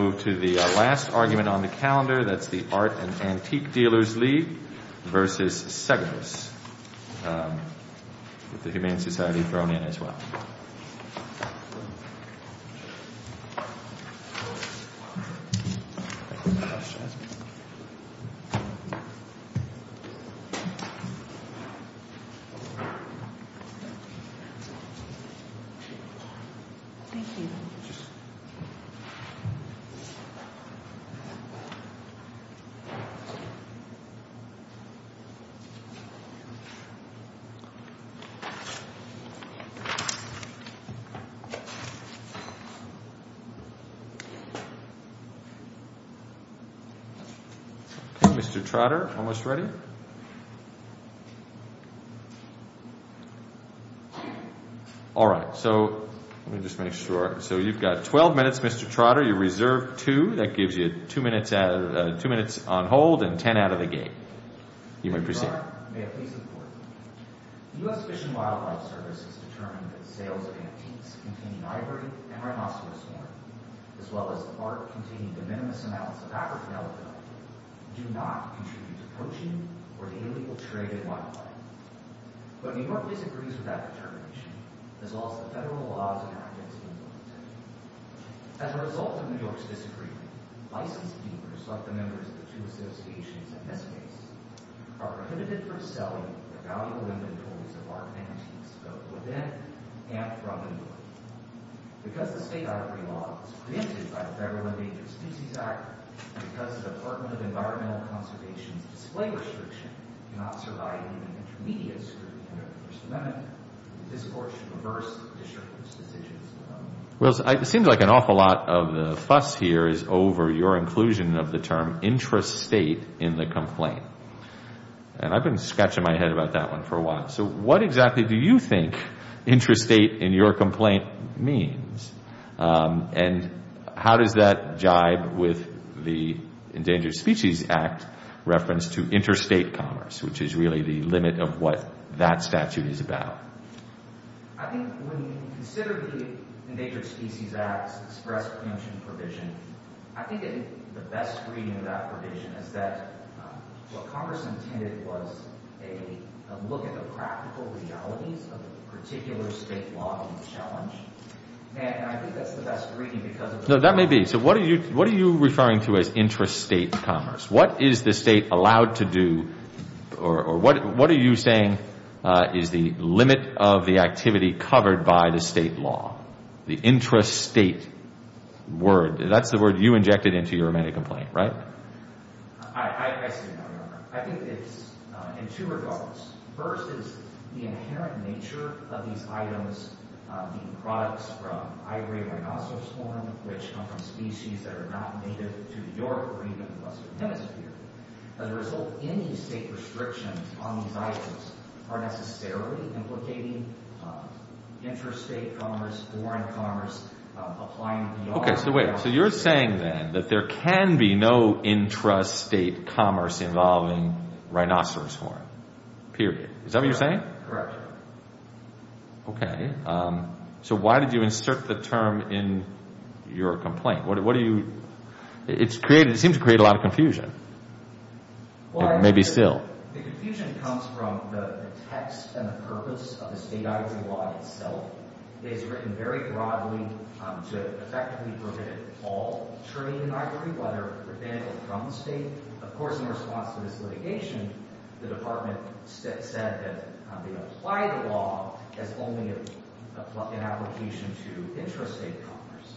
Art and Antique Dealers Le v. Seggos Art and Antique Dealers Le v. Seggos Art and Antique Dealers Le v. Seggos Mr. Trotter All right Mr. Trotter Mr. Trotter, may I please report? U.S. Fish and Wildlife Service has determined that sales of antiques containing ivory and rhinoceros horn, as well as art containing de minimis amounts of African elephant, do not contribute to poaching or illegal trade in wildlife. But New York disagrees with that determination, as well as the federal laws enacted in New York City. As a result of New York's disagreement, licensed dealers, like the members of the two associations in this case, are prohibited from selling the valuable inventories of art and antiques both within and from New York. Because the state ivory law was preempted by the Federal Endangered Species Act, and because the Department of Environmental Conservation's display restriction cannot survive even an intermediate scrutiny under the First Amendment, this Court should reverse the district judge's decision. And how does that jibe with the Endangered Species Act reference to interstate commerce, which is really the limit of what that statute is about? I think when you consider the Endangered Species Act's express preemption provision, I think the best reading of that provision is that what Congress intended was a look at the practical realities of a particular state law and challenge. And I think that's the best reading because of the fact that What is the state allowed to do, or what are you saying is the limit of the activity covered by the state law? The intrastate word, that's the word you injected into your amendment complaint, right? I see now, Your Honor. I think it's in two regards. First is the inherent nature of these items, the products from ivory rhinoceros horn, which come from species that are not native to New York or even the Western Hemisphere. As a result, any state restrictions on these items are necessarily implicating interstate commerce, foreign commerce, applying New York... Intrastate commerce involving rhinoceros horn, period. Is that what you're saying? Correct, Your Honor. Okay. So why did you insert the term in your complaint? It seems to create a lot of confusion. Maybe still. The confusion comes from the text and the purpose of the state ivory law itself. It is written very broadly to effectively permit all trade in ivory, whether it be from the state. Of course, in response to this litigation, the Department said that they apply the law as only an application to intrastate commerce.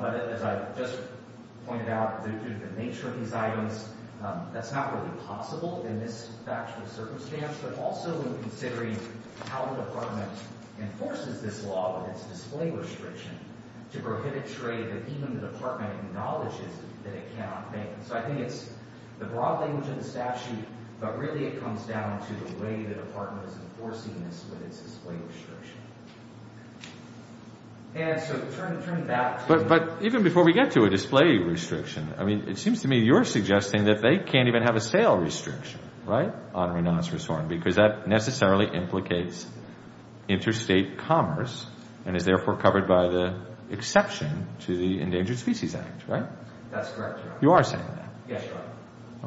But as I just pointed out, due to the nature of these items, that's not really possible in this factual circumstance. But also in considering how the Department enforces this law with its display restriction to prohibit trade that even the Department acknowledges that it cannot make. So I think it's the broad language in the statute, but really it comes down to the way the Department is enforcing this with its display restriction. And so turning back to... But even before we get to a display restriction, I mean, it seems to me you're suggesting that they can't even have a sale restriction, right, on rhinoceros horn, because that necessarily implicates intrastate commerce and is therefore covered by the exception to the Endangered Species Act, right? That's correct, Your Honor. You are saying that? Yes, Your Honor.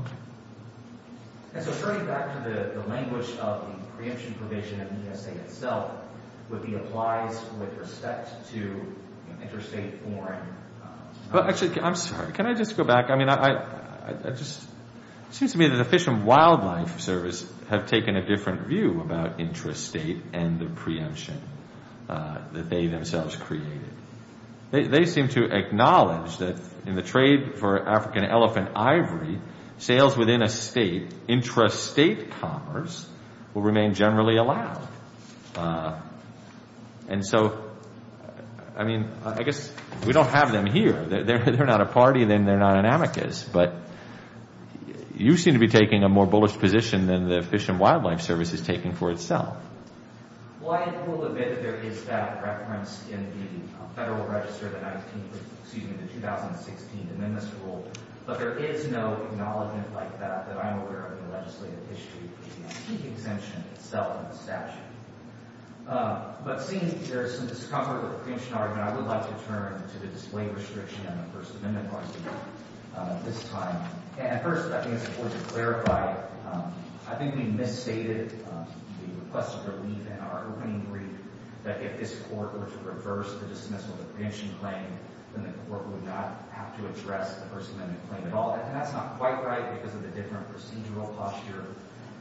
Okay. And so turning back to the language of the preemption provision in the ESA itself with the applies with respect to intrastate foreign... Well, actually, I'm sorry. Can I just go back? I mean, I just... It seems to me that the Fish and Wildlife Service have taken a different view about intrastate and the preemption that they themselves created. They seem to acknowledge that in the trade for African elephant ivory, sales within a state, intrastate commerce will remain generally allowed. And so, I mean, I guess we don't have them here. They're not a party and they're not an amicus, but you seem to be taking a more bullish position than the Fish and Wildlife Service is taking for itself. Well, I will admit that there is that reference in the Federal Register, the 19th, excuse me, the 2016 Amendments Rule. But there is no acknowledgment like that that I'm aware of in the legislative history for the exemption itself in the statute. But seeing that there is some discomfort with the preemption argument, I would like to turn to the display restriction on the First Amendment part of this time. And first, I think it's important to clarify, I think we misstated the request of relief in our opening brief, that if this Court were to reverse the dismissal of the preemption claim, then the Court would not have to address the First Amendment claim at all. And that's not quite right because of the different procedural posture.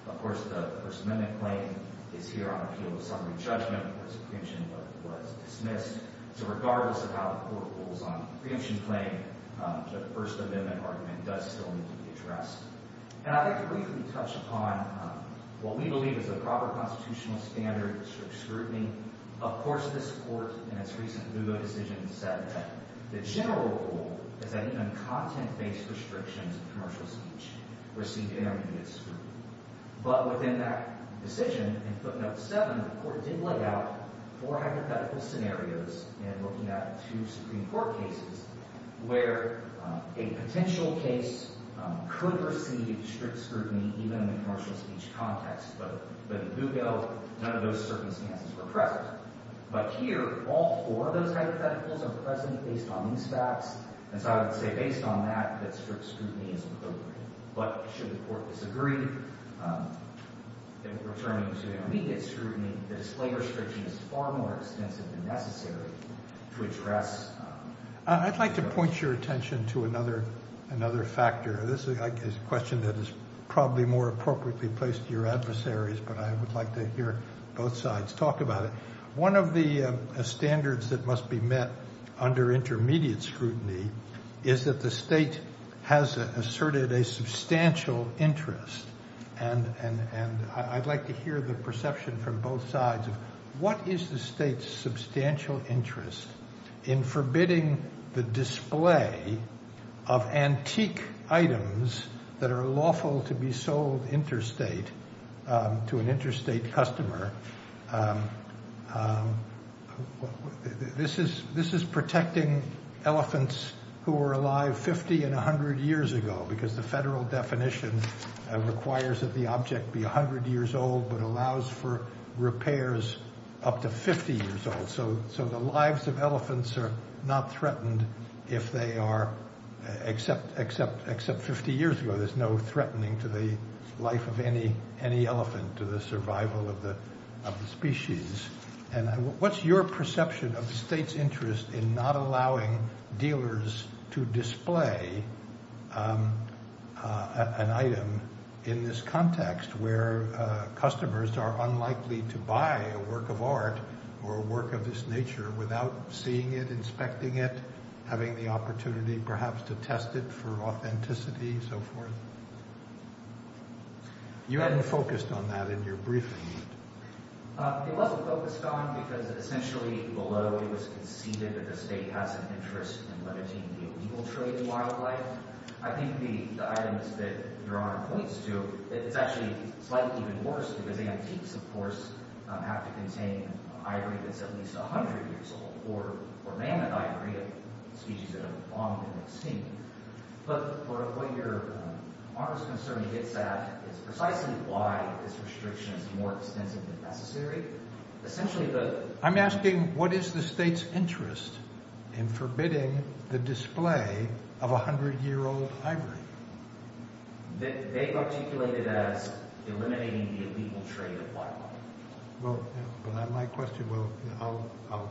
Of course, the First Amendment claim is here on appeal of summary judgment because the preemption was dismissed. So regardless of how the Court rules on the preemption claim, the First Amendment argument does still need to be addressed. And I'd like to briefly touch upon what we believe is the proper constitutional standard for scrutiny. Of course, this Court in its recent Lugo decision said that the general rule is that even content-based restrictions of commercial speech were seen to intermediate scrutiny. But within that decision, in footnote 7, the Court did lay out four hypothetical scenarios in looking at two Supreme Court cases where a potential case could receive strict scrutiny even in the commercial speech context. But in Lugo, none of those circumstances were present. But here, all four of those hypotheticals are present based on these facts. And so I would say based on that, that strict scrutiny is appropriate. But should the Court disagree in referring to intermediate scrutiny, the display restriction is far more extensive and necessary to address. I'd like to point your attention to another factor. This is a question that is probably more appropriately placed to your adversaries, but I would like to hear both sides talk about it. One of the standards that must be met under intermediate scrutiny is that the State has asserted a substantial interest. And I'd like to hear the perception from both sides of what is the State's substantial interest in forbidding the display of antique items that are lawful to be sold interstate to an interstate customer. This is protecting elephants who were alive 50 and 100 years ago, because the federal definition requires that the object be 100 years old but allows for repairs up to 50 years old. So the lives of elephants are not threatened if they are, except 50 years ago, there's no threatening to the life of any elephant, to the survival of the species. And what's your perception of the State's interest in not allowing dealers to display an item in this context where customers are unlikely to buy a work of art or a work of this nature without seeing it, inspecting it, having the opportunity perhaps to test it for authenticity and so forth? You hadn't focused on that in your briefing. It wasn't focused on because essentially below it was conceded that the State has an interest in limiting the illegal trade in wildlife. I think the items that Your Honor points to, it's actually slightly even worse because antiques, of course, have to contain ivory that's at least 100 years old or mammoth ivory, a species that have long been extinct. But what Your Honor's concern hits at is precisely why this restriction is more extensive than necessary. I'm asking what is the State's interest in forbidding the display of 100-year-old ivory? They've articulated it as eliminating the illegal trade of wildlife. Well, my question, I'll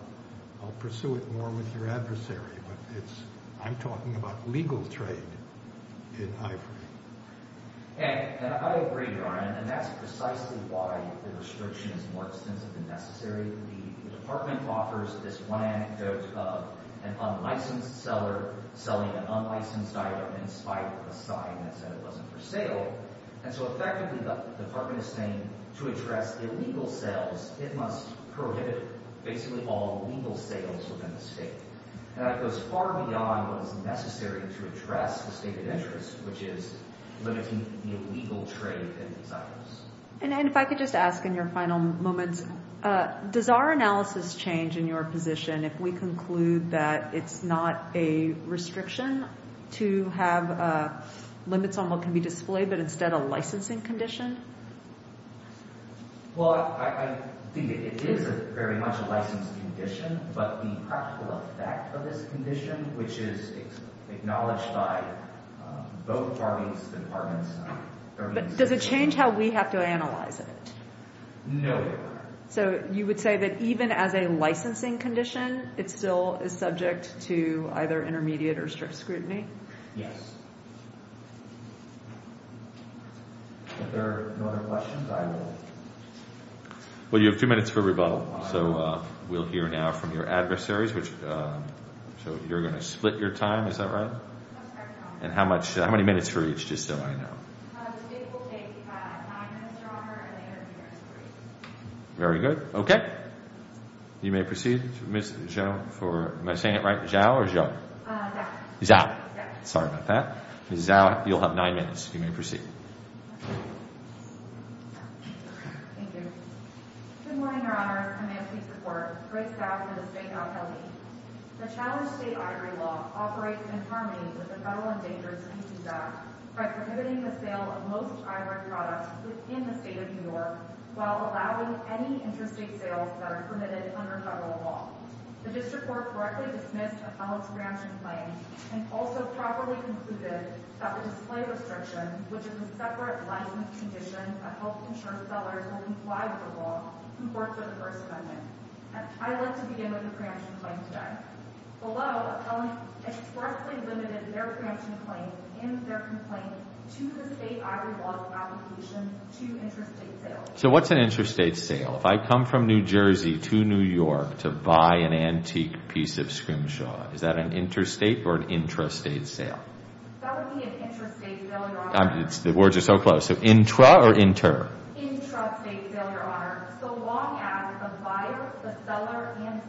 pursue it more with your adversary, but I'm talking about legal trade in ivory. And I agree, Your Honor, and that's precisely why the restriction is more extensive than necessary. The Department offers this one anecdote of an unlicensed seller selling an unlicensed item in spite of a sign that said it wasn't for sale. And so effectively the Department is saying to address illegal sales, it must prohibit basically all legal sales within the State. And that goes far beyond what is necessary to address the State's interest, which is limiting the illegal trade in these items. And if I could just ask in your final moments, does our analysis change in your position if we conclude that it's not a restriction to have limits on what can be displayed, but instead a licensing condition? Well, I think it is very much a licensed condition, but the practical effect of this condition, which is acknowledged by both parties, the Departments, But does it change how we have to analyze it? No, Your Honor. So you would say that even as a licensing condition, it still is subject to either intermediate or strict scrutiny? Yes. Well, you have two minutes for rebuttal. So we'll hear now from your adversaries. So you're going to split your time, is that right? And how many minutes for each, just so I know? Today we'll take nine minutes, Your Honor, and the intermediate is three. Very good. Okay. You may proceed, Ms. Zhao. Am I saying it right? Zhao or Zhao? Zhao. Zhao. Sorry about that. Ms. Zhao, you'll have nine minutes. You may proceed. Thank you. Good morning, Your Honor. I'm here to support Grace Zhao for the State of LA. The Challenged State Ivory Law operates in harmony with the Federal Endangered Species Act by prohibiting the sale of most ivory products within the State of New York while allowing any interstate sales that are permitted under federal law. The District Court correctly dismissed a felon's preemption claim and also properly concluded that the display restriction, which is a separate license condition that helps insure sellers will comply with the law, comports with the First Amendment. I'd like to begin with the preemption claim today. Below, a felon expressly limited their preemption claim and their complaint to the State Ivory Law's application to interstate sales. So what's an interstate sale? If I come from New Jersey to New York to buy an antique piece of scrimshaw, is that an interstate or an intrastate sale? That would be an intrastate sale, Your Honor. The words are so close. So intra or inter? Intrastate sale, Your Honor. So long as the buyer, the seller, and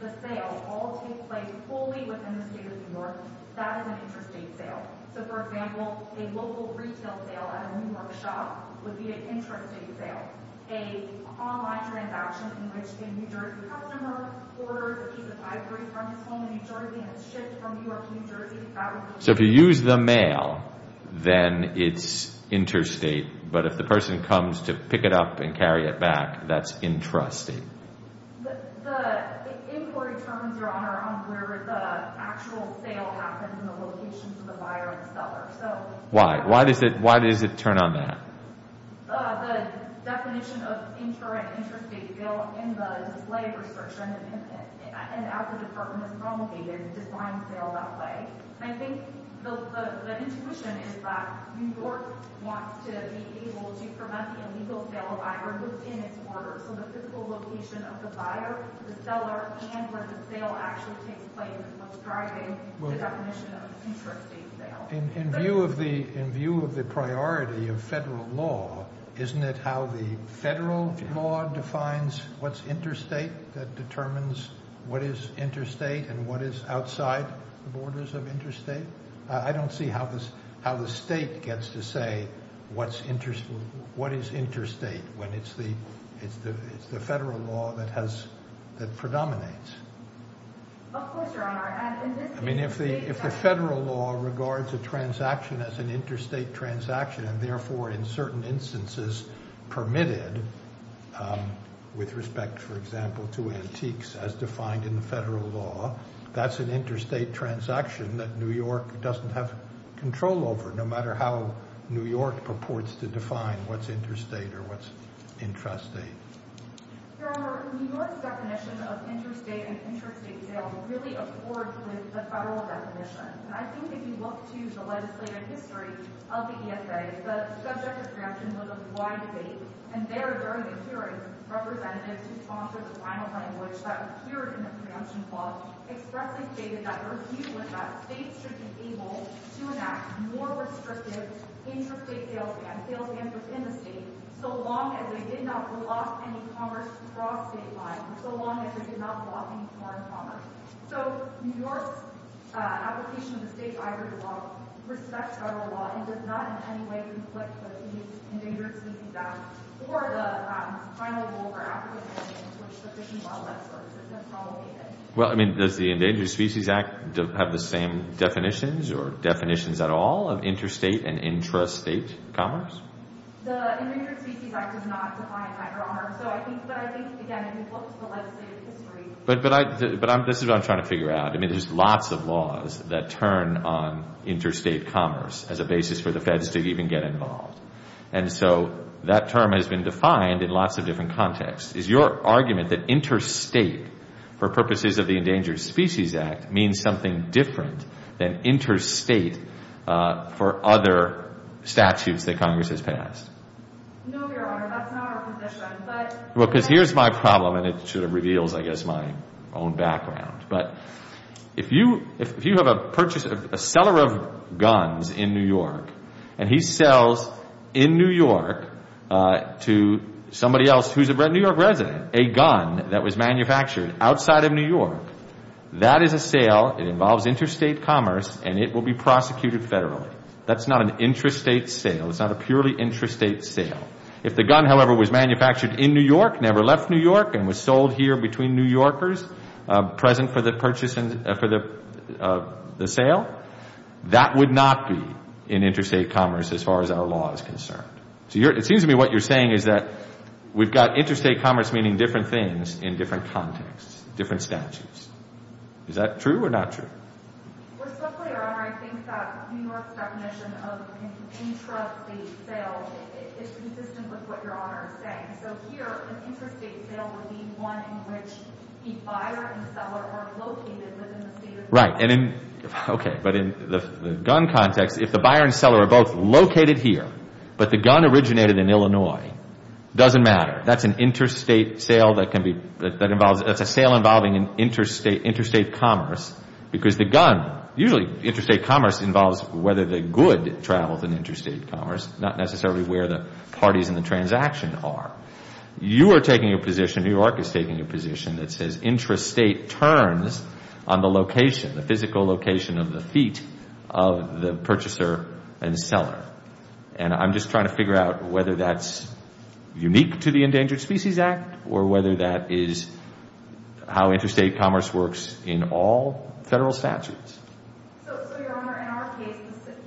the sale all take place fully within the State of New York, that is an intrastate sale. So, for example, a local retail sale at a new workshop would be an intrastate sale. An online transaction in which a New Jersey customer orders a piece of ivory from his home in New Jersey and it's shipped from New York to New Jersey, that would be an intrastate sale. So if you use the mail, then it's interstate. But if the person comes to pick it up and carry it back, that's intrastate. The inquiry terms, Your Honor, are on where the actual sale happens and the locations of the buyer and the seller. Why? Why does it turn on that? The definition of intrastate sale in the display prescription and as the department is promulgated, it defines sale that way. I think the intuition is that New York wants to be able to prevent the illegal sale of ivory within its borders. So the physical location of the buyer, the seller, and where the sale actually takes place is what's driving the definition of intrastate sale. In view of the priority of federal law, isn't it how the federal law defines what's interstate? That determines what is interstate and what is outside the borders of interstate? I don't see how the state gets to say what is interstate when it's the federal law that predominates. Of course, Your Honor. I mean, if the federal law regards a transaction as an interstate transaction and therefore in certain instances permitted with respect, for example, to antiques as defined in the federal law, that's an interstate transaction that New York doesn't have control over no matter how New York purports to define what's interstate or what's intrastate. Your Honor, New York's definition of interstate and intrastate sale really accord with the federal definition. And I think if you look to the legislative history of the ESA, the subject of preemption was a wide debate. And there during the hearing, representatives who sponsored the final language that appeared in the preemption clause expressly stated that the review was that states should be able to enact more restrictive intrastate sales bans, sales bans within the state, so long as they did not block any commerce across state lines, so long as they did not block any foreign commerce. So New York's application of the state's ivory law respects federal law and does not in any way conflict with the Endangered Species Act or the final goal for African Americans, which is the Fish and Wildlife Service. Well, I mean, does the Endangered Species Act have the same definitions or definitions at all of interstate and intrastate commerce? The Endangered Species Act does not define that, Your Honor. But I think, again, if you look to the legislative history... But this is what I'm trying to figure out. I mean, there's lots of laws that turn on interstate commerce as a basis for the feds to even get involved. And so that term has been defined in lots of different contexts. Is your argument that interstate for purposes of the Endangered Species Act means something different than interstate for other statutes that Congress has passed? No, Your Honor. That's not our position. Well, because here's my problem, and it sort of reveals, I guess, my own background. But if you have a seller of guns in New York and he sells in New York to somebody else who's a New York resident a gun that was manufactured outside of New York, that is a sale, it involves interstate commerce, and it will be prosecuted federally. That's not an intrastate sale. It's not a purely intrastate sale. If the gun, however, was manufactured in New York, never left New York, and was sold here between New Yorkers present for the sale, that would not be an interstate commerce as far as our law is concerned. So it seems to me what you're saying is that we've got interstate commerce meaning different things in different contexts, different statutes. Is that true or not true? We're still clear, Your Honor. I think that New York's definition of intrastate sale is consistent with what Your Honor is saying. So here, an interstate sale would be one in which the buyer and seller are located within the state of New York. Right. Okay. But in the gun context, if the buyer and seller are both located here, but the gun originated in Illinois, it doesn't matter. That's an interstate sale that can be, that involves, that's a sale involving an interstate commerce because the gun, usually interstate commerce involves whether the good travels in interstate commerce, not necessarily where the parties in the transaction are. You are taking a position, New York is taking a position that says intrastate turns on the location, the physical location of the feet of the purchaser and seller. And I'm just trying to figure out whether that's unique to the Endangered Species Act or whether that is how interstate commerce works in all federal statutes. So, Your Honor, in our case,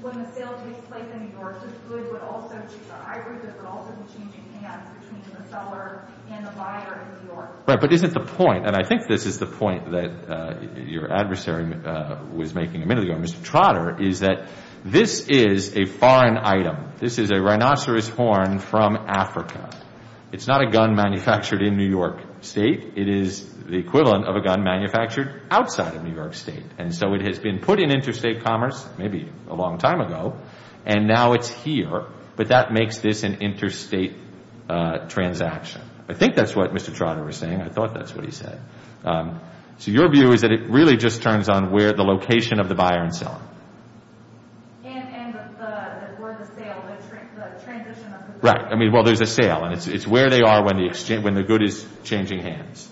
when the sale takes place in New York, the good would also, the hybrid would also be changing hands between the seller and the buyer in New York. Right. But isn't the point, and I think this is the point that your adversary was making a minute ago, Mr. Trotter, is that this is a foreign item. This is a rhinoceros horn from Africa. It's not a gun manufactured in New York State. It is the equivalent of a gun manufactured outside of New York State. And so it has been put in interstate commerce maybe a long time ago and now it's here, but that makes this an interstate transaction. I think that's what Mr. Trotter was saying. I thought that's what he said. So your view is that it really just turns on where the location of the buyer and seller. And where the sale, the transition of the good. Right. I mean, well, there's a sale and it's where they are when the good is changing hands.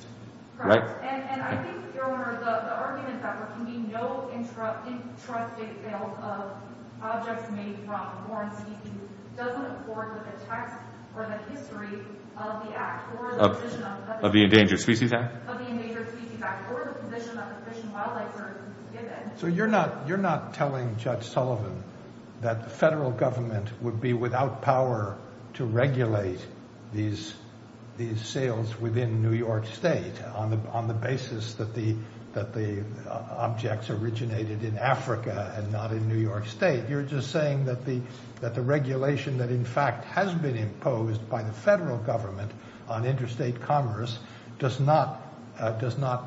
Right. And I think, Your Honor, the argument that there can be no intrusive sale of objects made from foreign species doesn't accord with the text or the history of the Act or the position of the Endangered Species Act. Or the position of the Fish and Wildlife Service. So you're not telling Judge Sullivan that the federal government would be without power to regulate these sales within New York State on the basis that the objects originated in Africa and not in New York State. You're just saying that the regulation that in fact has been imposed by the federal government on interstate commerce does not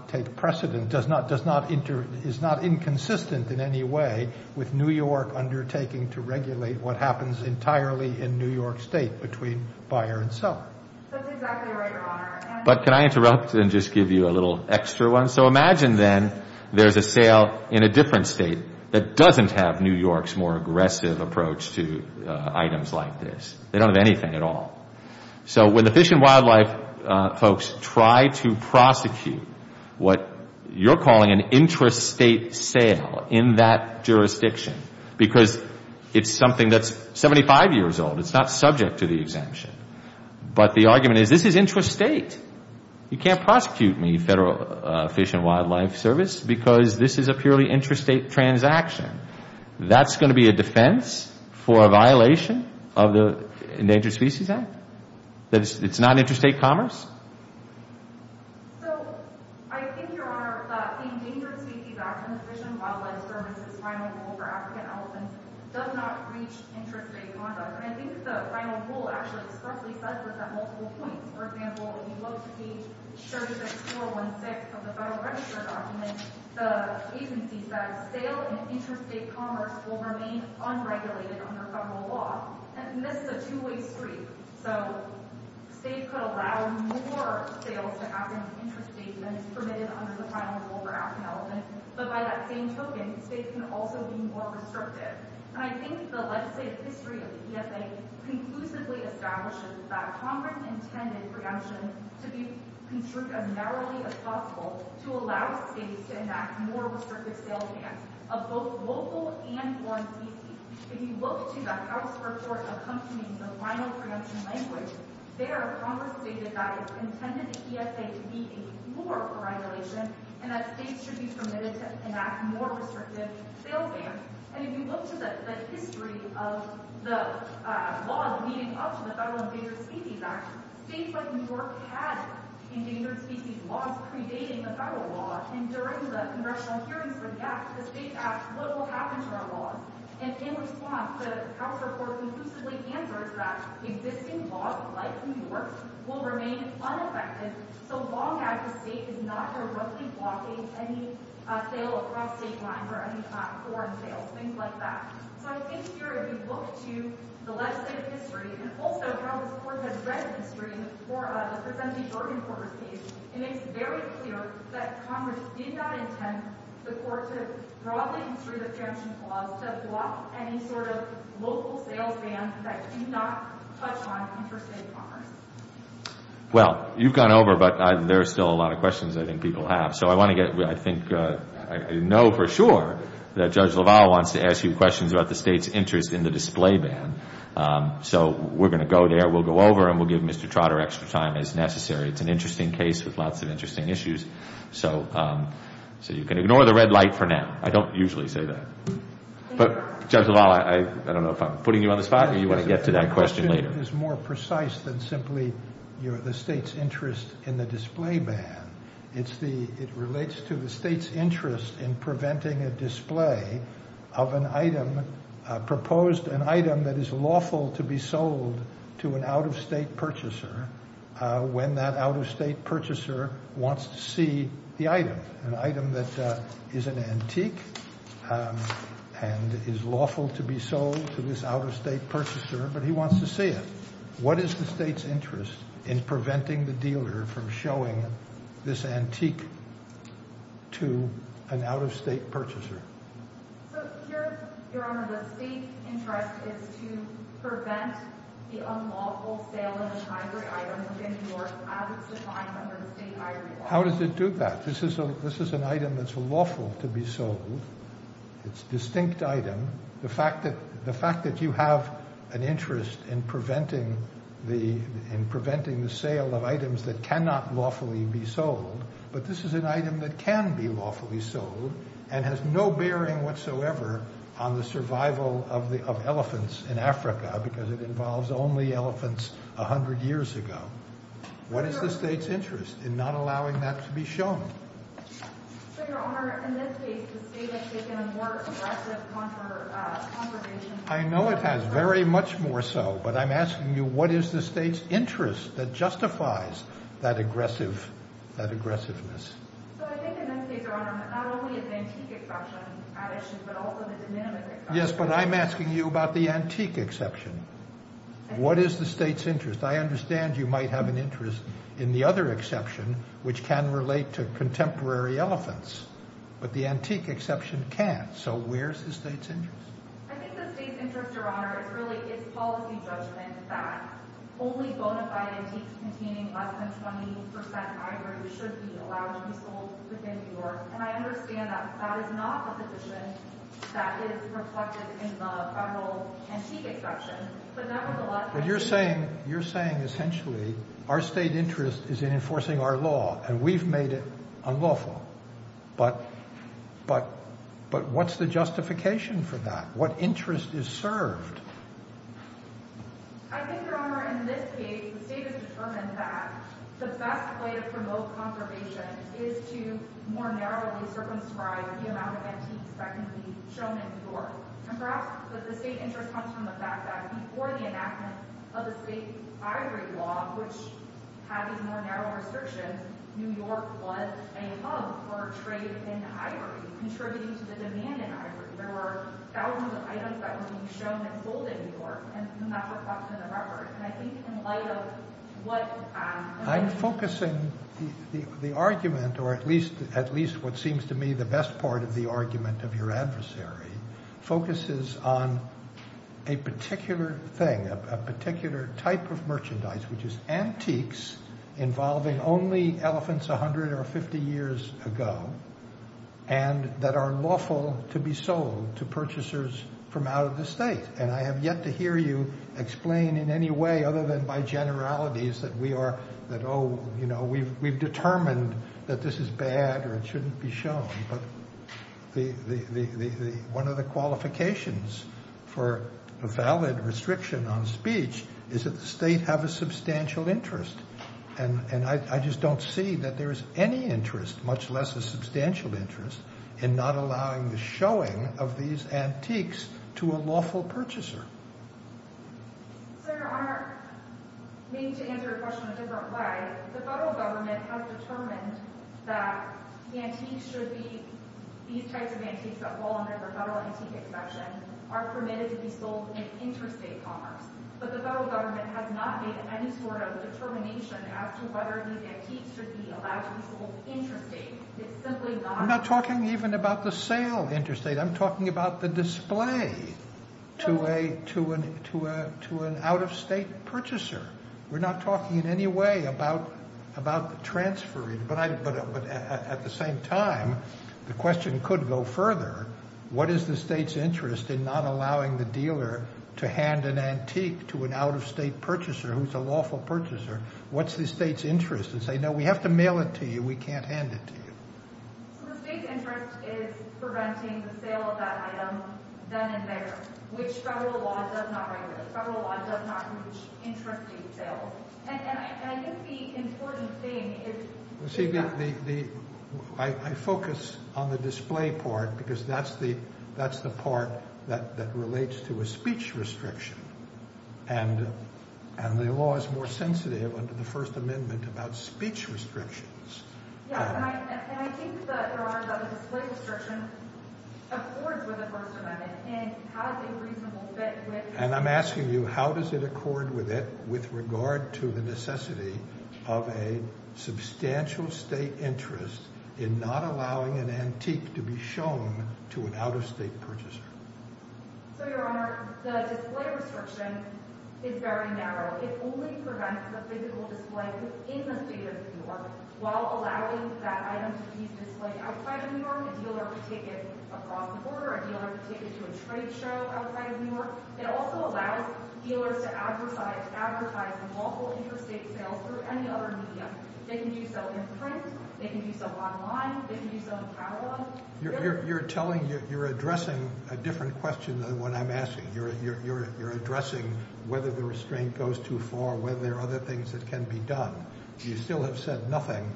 take precedent, is not inconsistent in any way with New York undertaking to regulate what happens entirely in New York State between buyer and seller. That's exactly right, Your Honor. But can I interrupt and just give you a little extra one? So imagine then there's a sale in a different state that doesn't have New York's more aggressive approach to items like this. They don't have anything at all. So when the Fish and Wildlife folks try to prosecute what you're calling an intrastate sale in that jurisdiction because it's something that's 75 years old, it's not subject to the exemption, but the argument is this is intrastate. You can't prosecute me, Federal Fish and Wildlife Service, because this is a purely intrastate transaction. That's going to be a defense for a violation of the Endangered Species Act? That it's not intrastate commerce? So I think, Your Honor, that the Endangered Species Act in the Fish and Wildlife Service's final rule for African elephants does not breach intrastate conduct. And I think the final rule actually explicitly says this at multiple points. For example, if you look at page 36416 of the Federal Register document, the agency says, sale in intrastate commerce will remain unregulated under federal law. And this is a two-way street. So states could allow more sales to African intrastates than is permitted under the final rule for African elephants, but by that same token, states can also be more restrictive. And I think the legislative history of the DSA conclusively establishes that Congress intended for the exemption to be construed as narrowly as possible to allow states to enact more restrictive sale bans of both local and foreign species. If you look to the House report accompanying the final preemption language, there, Congress stated that it intended the DSA to be a floor for regulation and that states should be permitted to enact more restrictive sale bans. And if you look to the history of the laws leading up to the Federal Endangered Species Act, states like New York had endangered species laws predating the federal law. And during the congressional hearings for the act, the states asked, what will happen to our laws? And in response, the House report conclusively answers that existing laws like New York's will remain unaffected so long as the state is not directly blocking any sale across state lines or any foreign sales, things like that. So I think here, if you look to the legislative history, and also how this Court has read history for the presumptive Oregon Court received, it makes very clear that Congress did not intend the Court to broadly instruct the exemption clause to block any sort of local sales bans that do not touch on interstate commerce. Well, you've gone over, but there are still a lot of questions I think people have. So I want to get, I think, I know for sure that Judge LaValle wants to ask you questions about the state's interest in the display ban. So we're going to go there. We'll go over and we'll give Mr. Trotter extra time as necessary. It's an interesting case with lots of interesting issues. So you can ignore the red light for now. I don't usually say that. But, Judge LaValle, I don't know if I'm putting you on the spot or you want to get to that question later. The Court is more precise than simply the state's interest in the display ban. It relates to the state's interest in preventing a display of an item, proposed an item that is lawful to be sold to an out-of-state purchaser when that out-of-state purchaser wants to see the item, an item that is an antique and is lawful to be sold to this out-of-state purchaser, but he wants to see it. What is the state's interest in preventing the dealer from showing this antique to an out-of-state purchaser? So, Your Honor, the state's interest is to prevent the unlawful sale of an ivory item within New York as it's defined under the state ivory law. How does it do that? This is an item that's lawful to be sold. It's a distinct item. The fact that you have an interest in preventing the sale of items that cannot lawfully be sold, but this is an item that can be lawfully sold and has no bearing whatsoever on the survival of elephants in Africa because it involves only elephants 100 years ago. What is the state's interest in not allowing that to be shown? So, Your Honor, in this case, the state has taken a more aggressive conversation. I know it has very much more so, but I'm asking you what is the state's interest that justifies that aggressiveness. So, I think in this case, Your Honor, not only is it an antique exception, but also the de minimis exception. Yes, but I'm asking you about the antique exception. What is the state's interest? I understand you might have an interest in the other exception, which can relate to contemporary elephants, but the antique exception can't. So, where is the state's interest? I think the state's interest, Your Honor, is really its policy judgment that only bona fide antiques containing less than 20% ivory should be allowed to be sold within New York, and I understand that that is not a position that is reflected in the federal antique exception, but that was a lot— But you're saying, essentially, our state interest is in enforcing our law, and we've made it unlawful. But what's the justification for that? What interest is served? I think, Your Honor, in this case, the state has determined that the best way to promote conservation is to more narrowly circumscribe the amount of antiques that can be shown in New York, and perhaps the state interest comes from the fact that before the enactment of the state ivory law, which had these more narrow restrictions, New York was a hub for trade in ivory, contributing to the demand in ivory. There were thousands of items that were being shown and sold in New York, and that's reflected in the record, and I think in light of what— I'm focusing the argument, or at least what seems to me the best part of the argument of your adversary, focuses on a particular thing, a particular type of merchandise, which is antiques involving only elephants 100 or 50 years ago, and that are lawful to be sold to purchasers from out of the state. And I have yet to hear you explain in any way other than by generalities that we are—that, oh, you know, we've determined that this is bad or it shouldn't be shown, but one of the qualifications for a valid restriction on speech is that the state have a substantial interest, and I just don't see that there is any interest, much less a substantial interest, in not allowing the showing of these antiques to a lawful purchaser. Senator Arnott, maybe to answer your question in a different way, the federal government has determined that the antiques should be— these types of antiques that fall under the federal antique exception are permitted to be sold in interstate commerce, but the federal government has not made any sort of determination as to whether these antiques should be allowed to be sold interstate. It's simply not— I'm not talking even about the sale interstate. I'm talking about the display to an out-of-state purchaser. We're not talking in any way about transferring. But at the same time, the question could go further. What is the state's interest in not allowing the dealer to hand an antique to an out-of-state purchaser who's a lawful purchaser? What's the state's interest? And say, no, we have to mail it to you. We can't hand it to you. So the state's interest is preventing the sale of that item then and there, which federal law does not regulate. Federal law does not restrict sales. And I think the important thing is— See, the—I focus on the display part because that's the part that relates to a speech restriction, and the law is more sensitive under the First Amendment about speech restrictions. Yes, and I think, Your Honor, that the display restriction accords with the First Amendment and has a reasonable fit with— And I'm asking you, how does it accord with it with regard to the necessity of a substantial state interest in not allowing an antique to be shown to an out-of-state purchaser? So, Your Honor, the display restriction is very narrow. It only prevents the physical display in the state of New York while allowing that item to be displayed outside of New York. A dealer could take it across the border. A dealer could take it to a trade show outside of New York. It also allows dealers to advertise lawful interstate sales through any other medium. They can do so in print. They can do so online. They can do so in catalogs. You're telling—you're addressing a different question than the one I'm asking. You're addressing whether the restraint goes too far, whether there are other things that can be done. You still have said nothing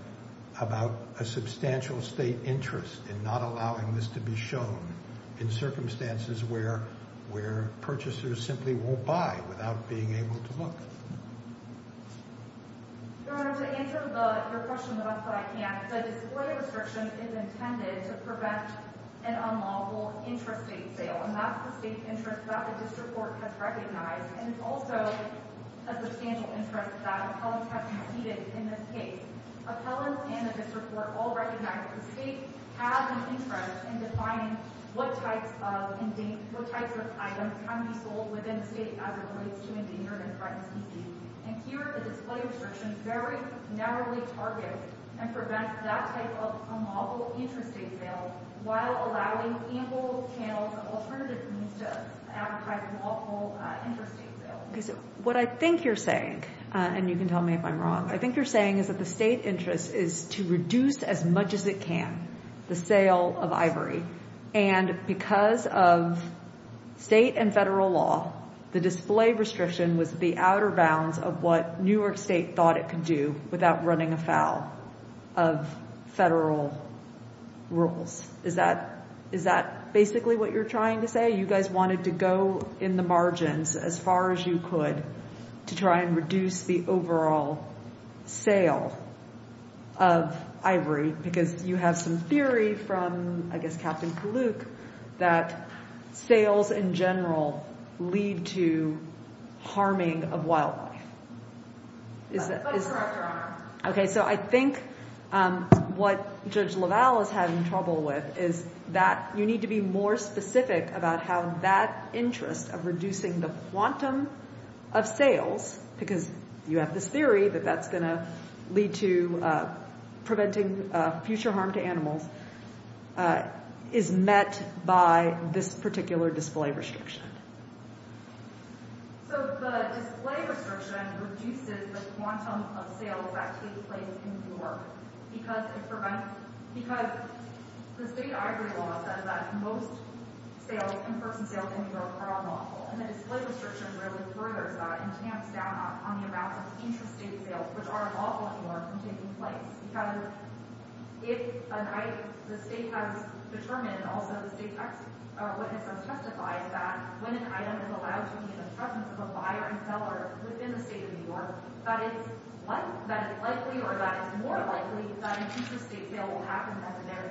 about a substantial state interest in not allowing this to be shown in circumstances where purchasers simply won't buy without being able to look. Your Honor, to answer your question about that, I can't. The display restriction is intended to prevent an unlawful interstate sale, and that's the state interest that the district court has recognized. And it's also a substantial interest that appellants have conceded in this case. Appellants and the district court all recognize that the state has an interest in defining what types of items can be sold within the state as it relates to endangered and threatened species. And here, the display restriction very narrowly targets and prevents that type of unlawful interstate sale while allowing ample channels of alternative means to advertise unlawful interstate sales. What I think you're saying—and you can tell me if I'm wrong— I think you're saying is that the state interest is to reduce as much as it can the sale of ivory. And because of state and federal law, the display restriction was the outer bounds of what New York State thought it could do without running afoul of federal rules. Is that basically what you're trying to say? You guys wanted to go in the margins as far as you could to try and reduce the overall sale of ivory because you have some theory from, I guess, Captain Kaluk, that sales in general lead to harming of wildlife. But it's correct, Your Honor. Okay, so I think what Judge LaValle is having trouble with is that you need to be more specific about how that interest of reducing the quantum of sales, because you have this theory that that's going to lead to preventing future harm to animals, is met by this particular display restriction. So the display restriction reduces the quantum of sales that take place in New York because the state ivory law says that most in-person sales in New York are lawful. And the display restriction really furthers that and tamps down on the amount of intrastate sales, which are lawful in New York, from taking place. Because if the state has determined, and also the state witness has testified, that when an item is allowed to be in the presence of a buyer and seller within the state of New York, that it's likely, or that it's more likely, that an intrastate sale will happen.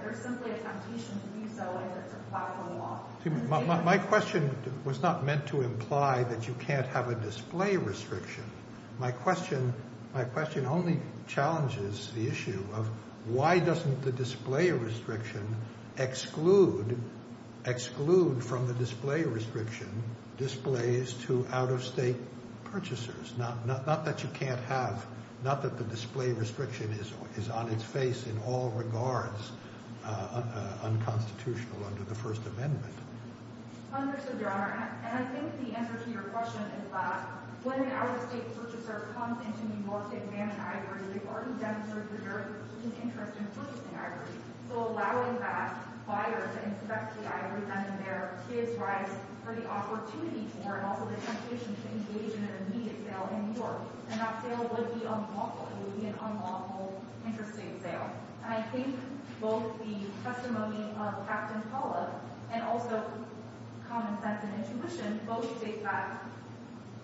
There's simply a temptation to do so if it's a platform law. My question was not meant to imply that you can't have a display restriction. My question only challenges the issue of why doesn't the display restriction exclude from the display restriction displays to out-of-state purchasers, not that you can't have, not that the display restriction is on its face in all regards unconstitutional under the First Amendment. Understood, Your Honor. And I think the answer to your question is that when an out-of-state purchaser comes into New York to examine ivory, they've already demonstrated their interest in purchasing ivory. So allowing that buyer to inspect the ivory then and there gives rise for the opportunity for, and also the temptation to engage in an immediate sale in New York. And that sale would be unlawful. It would be an unlawful intrastate sale. And I think both the testimony of Captain Pollock and also common sense and intuition both state that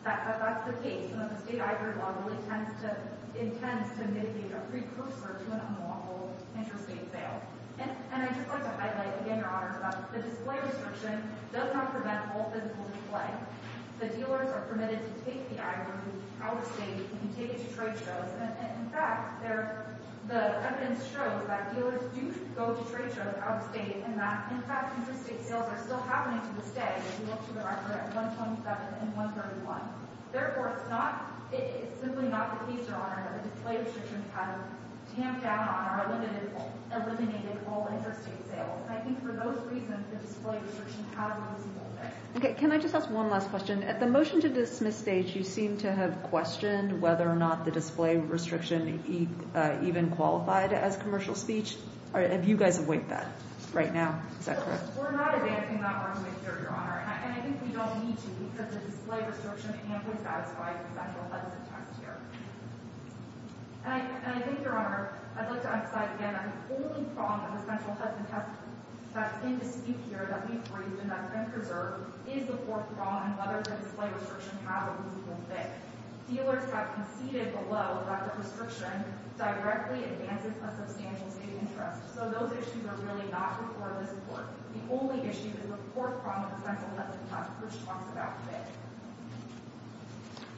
that's the case, and that the state ivory law really intends to mitigate a precursor to an unlawful intrastate sale. And I'd just like to highlight again, Your Honor, that the display restriction does not prevent all physical display. The dealers are permitted to take the ivory out-of-state. You can take it to trade shows. And, in fact, the evidence shows that dealers do go to trade shows out-of-state, and that, in fact, intrastate sales are still happening to this day. If you look to the record at 127 and 131. Therefore, it's simply not the case, Your Honor, that the display restrictions have tamped down on or eliminated all intrastate sales. And I think for those reasons, the display restrictions have a reasonable fix. Okay. Can I just ask one last question? At the motion-to-dismiss stage, you seem to have questioned whether or not the display restriction even qualified as commercial speech. Have you guys awaited that right now? Is that correct? We're not advancing that runway here, Your Honor. And I think we don't need to because the display restriction can't be satisfied with essential heads of text here. And I think, Your Honor, I'd like to emphasize again that the only problem with essential heads of text that's in dispute here, that we've raised and that's been preserved, is the fourth problem, whether the display restriction has a reasonable fit. Dealers have conceded below that the restriction directly advances a substantial state interest. So those issues are really not before this Court. The only issue is the fourth problem with essential heads of text, which talks about fit.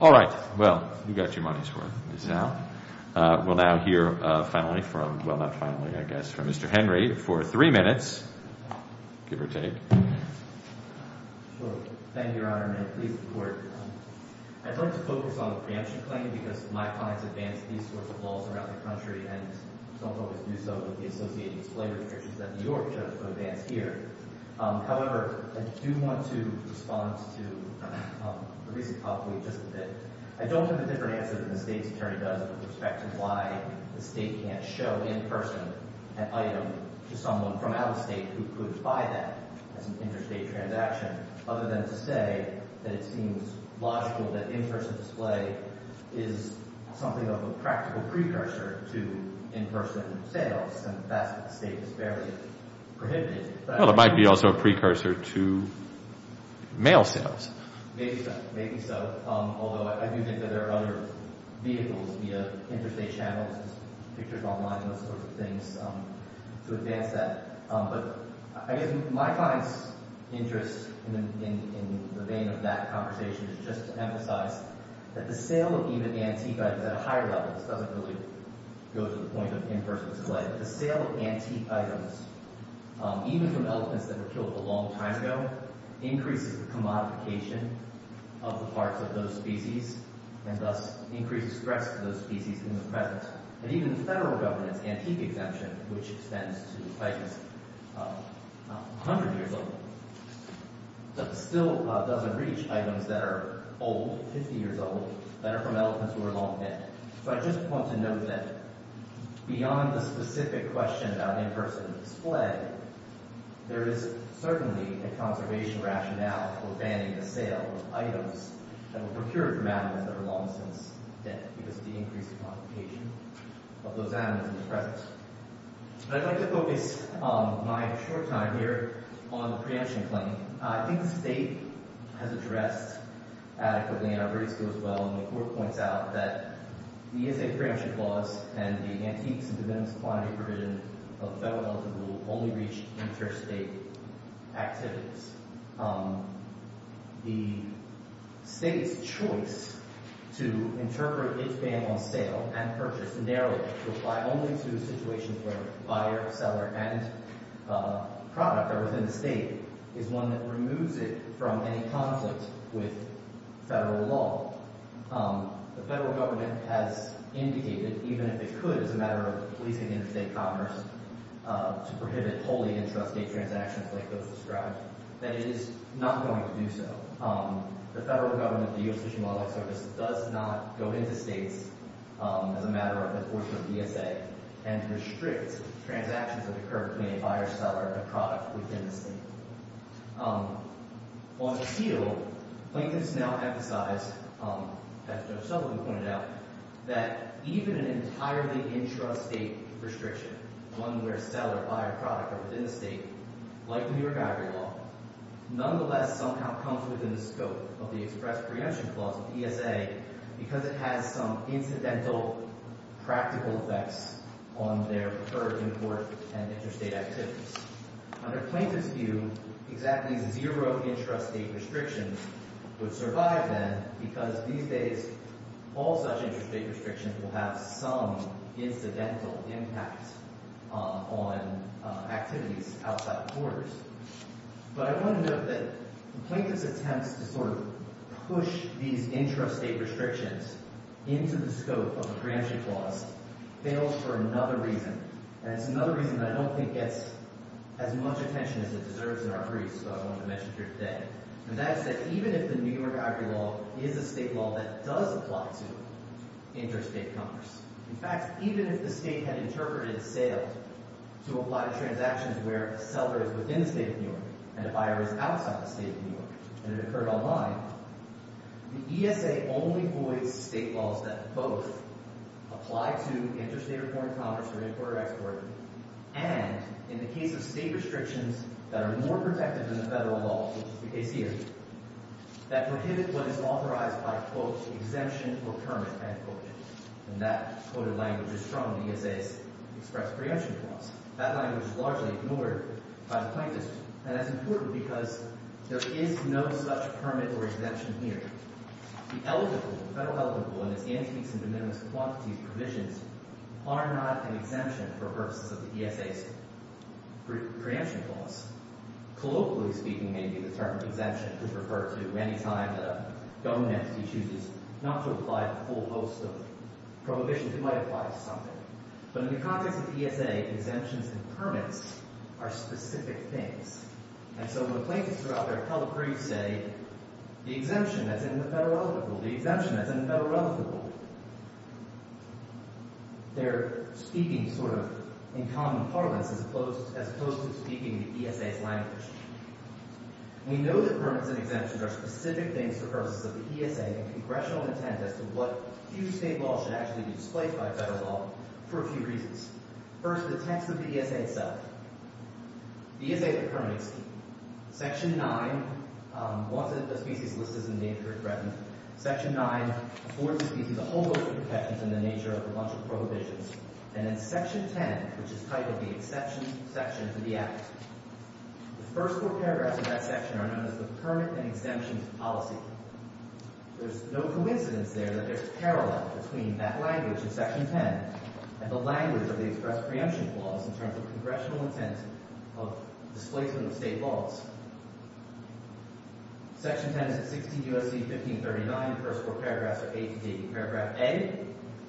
All right. Well, you got your money's worth. We'll now hear finally from – well, not finally, I guess, from Mr. Henry for three minutes, give or take. Sure. Thank you, Your Honor, and please support. I'd like to focus on the preemption claim because my clients advance these sorts of laws around the country and don't always do so with the associated display restrictions that New York judges would advance here. However, I do want to respond to the recent topic just a bit. I don't have a different answer than the state's attorney does with respect to why the state can't show in person an item to someone from out of state who could buy that as an interstate transaction other than to say that it seems logical that in-person display is something of a practical precursor to in-person sales. And that's what the state has fairly prohibited. Well, it might be also a precursor to mail sales. Maybe so. Maybe so. Although I do think that there are other vehicles via interstate channels, pictures online, those sorts of things to advance that. But I guess my client's interest in the vein of that conversation is just to emphasize that the sale of even antique items at a higher level doesn't really go to the point of in-person display. The sale of antique items, even from elephants that were killed a long time ago, increases the commodification of the parts of those species and thus increases stress to those species in the present. And even the federal government's antique exemption, which extends to, I guess, 100 years old, still doesn't reach items that are old, 50 years old, that are from elephants who were long dead. So I just want to note that beyond the specific question about in-person display, there is certainly a conservation rationale for banning the sale of items that were procured from animals that are long since dead because of the increase in commodification of those animals in the present. But I'd like to focus my short time here on the preemption claim. I think the state has addressed adequately, and our briefs go as well, and the Court points out that the ESA preemption clause and the Antiques and Divinities of Quantity provision of the Federal Elephant Rule only reach interstate activities. The state's choice to interpret its ban on sale and purchase narrowly would apply only to a situation where buyer, seller, and product are within the state is one that removes it from any conflict with federal law. The federal government has indicated, even if it could as a matter of policing interstate commerce to prohibit wholly intrastate transactions like those described, that it is not going to do so. The federal government, the U.S. Fish and Wildlife Service, does not go interstate as a matter of enforcement of ESA and restricts transactions that occur between a buyer, seller, and a product within the state. On the field, Plankton has now emphasized, as Judge Sullivan pointed out, that even an entirely intrastate restriction, one where seller, buyer, product are within the state, like the New York Agri-Law, nonetheless somehow comes within the scope of the express preemption clause of ESA because it has some incidental practical effects on their preferred import and interstate activities. Under Plankton's view, exactly zero intrastate restrictions would survive then because these days all such intrastate restrictions will have some incidental impact on activities outside the borders. But I want to note that Plankton's attempts to sort of push these intrastate restrictions into the scope of the preemption clause fails for another reason, and it's another reason that I don't think gets as much attention as it deserves in our briefs, so I wanted to mention it here today. And that is that even if the New York Agri-Law is a state law that does apply to intrastate commerce, in fact, even if the state had interpreted sales to apply to transactions where a seller is within the state of New York and a buyer is outside the state of New York, and it occurred online, the ESA only voids state laws that both apply to intrastate-reported commerce or import or export and, in the case of state restrictions that are more protective than the federal law, which is the case here, that prohibit what is authorized by, quote, exemption or permit, end quote. And that quoted language is from the ESA's express preemption clause. That language is largely ignored by the plaintiffs, and that's important because there is no such permit or exemption here. The eligible, the federal eligible, and its antiques and de minimis quantities provisions are not an exemption for purposes of the ESA's preemption clause. Colloquially speaking, maybe the term exemption could refer to any time that a government entity chooses not to apply to a full host of prohibitions. It might apply to something. But in the context of the ESA, exemptions and permits are specific things. And so when the plaintiffs throughout their public briefs say, the exemption that's in the federal eligible, the exemption that's in the federal eligible, they're speaking sort of in common parlance as opposed to speaking the ESA's language. We know that permits and exemptions are specific things for purposes of the ESA and congressional intent as to what huge state law should actually be displayed by federal law for a few reasons. First, the text of the ESA itself. ESA is a permitting scheme. Section 9, once the species list is in danger of threatening, Section 9 affords the species a whole host of protections in the nature of a bunch of prohibitions. And in Section 10, which is titled the Exemption Section to the Act, the first four paragraphs of that section are known as the permit and exemptions policy. There's no coincidence there that there's a parallel between that language in Section 10 and the language of the express preemption clause in terms of congressional intent of displacement of state laws. Section 10 is at 16 U.S.C. 1539. The first four paragraphs are A to D. Paragraph A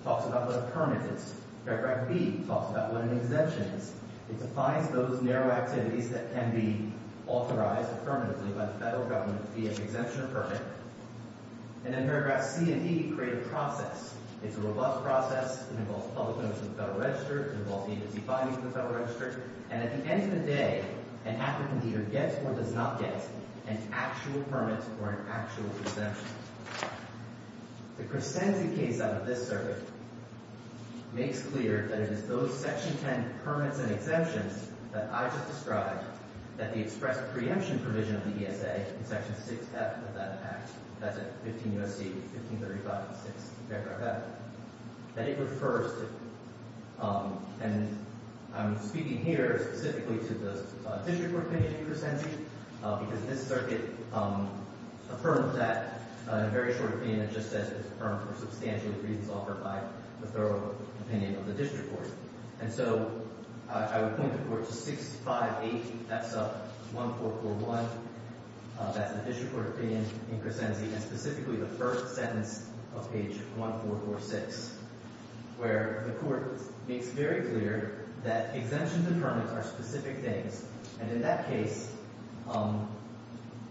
talks about what a permit is. Paragraph B talks about what an exemption is. It defines those narrow activities that can be authorized affirmatively by the federal government via the exemption of permit. And then paragraphs C and E create a process. It's a robust process. It involves public notice from the Federal Register. It involves agency findings from the Federal Register. And at the end of the day, an applicant either gets or does not get an actual permit or an actual exemption. The Crescenti case out of this circuit makes clear that it is those Section 10 permits and exemptions that I just described that the express preemption provision of the ESA in Section 6F of that act, that's at 15 U.S.C. 1535.6. Paragraph F. That it refers to, and I'm speaking here specifically to the district court opinion in Crescenti, because this circuit affirms that, in a very short opinion, it just says it's affirmed for substantial reasons offered by the federal opinion of the district court. And so I would point the court to 658. That's 1441. That's the district court opinion in Crescenti, and specifically the first sentence of page 1446, where the court makes very clear that exemptions and permits are specific things. And in that case,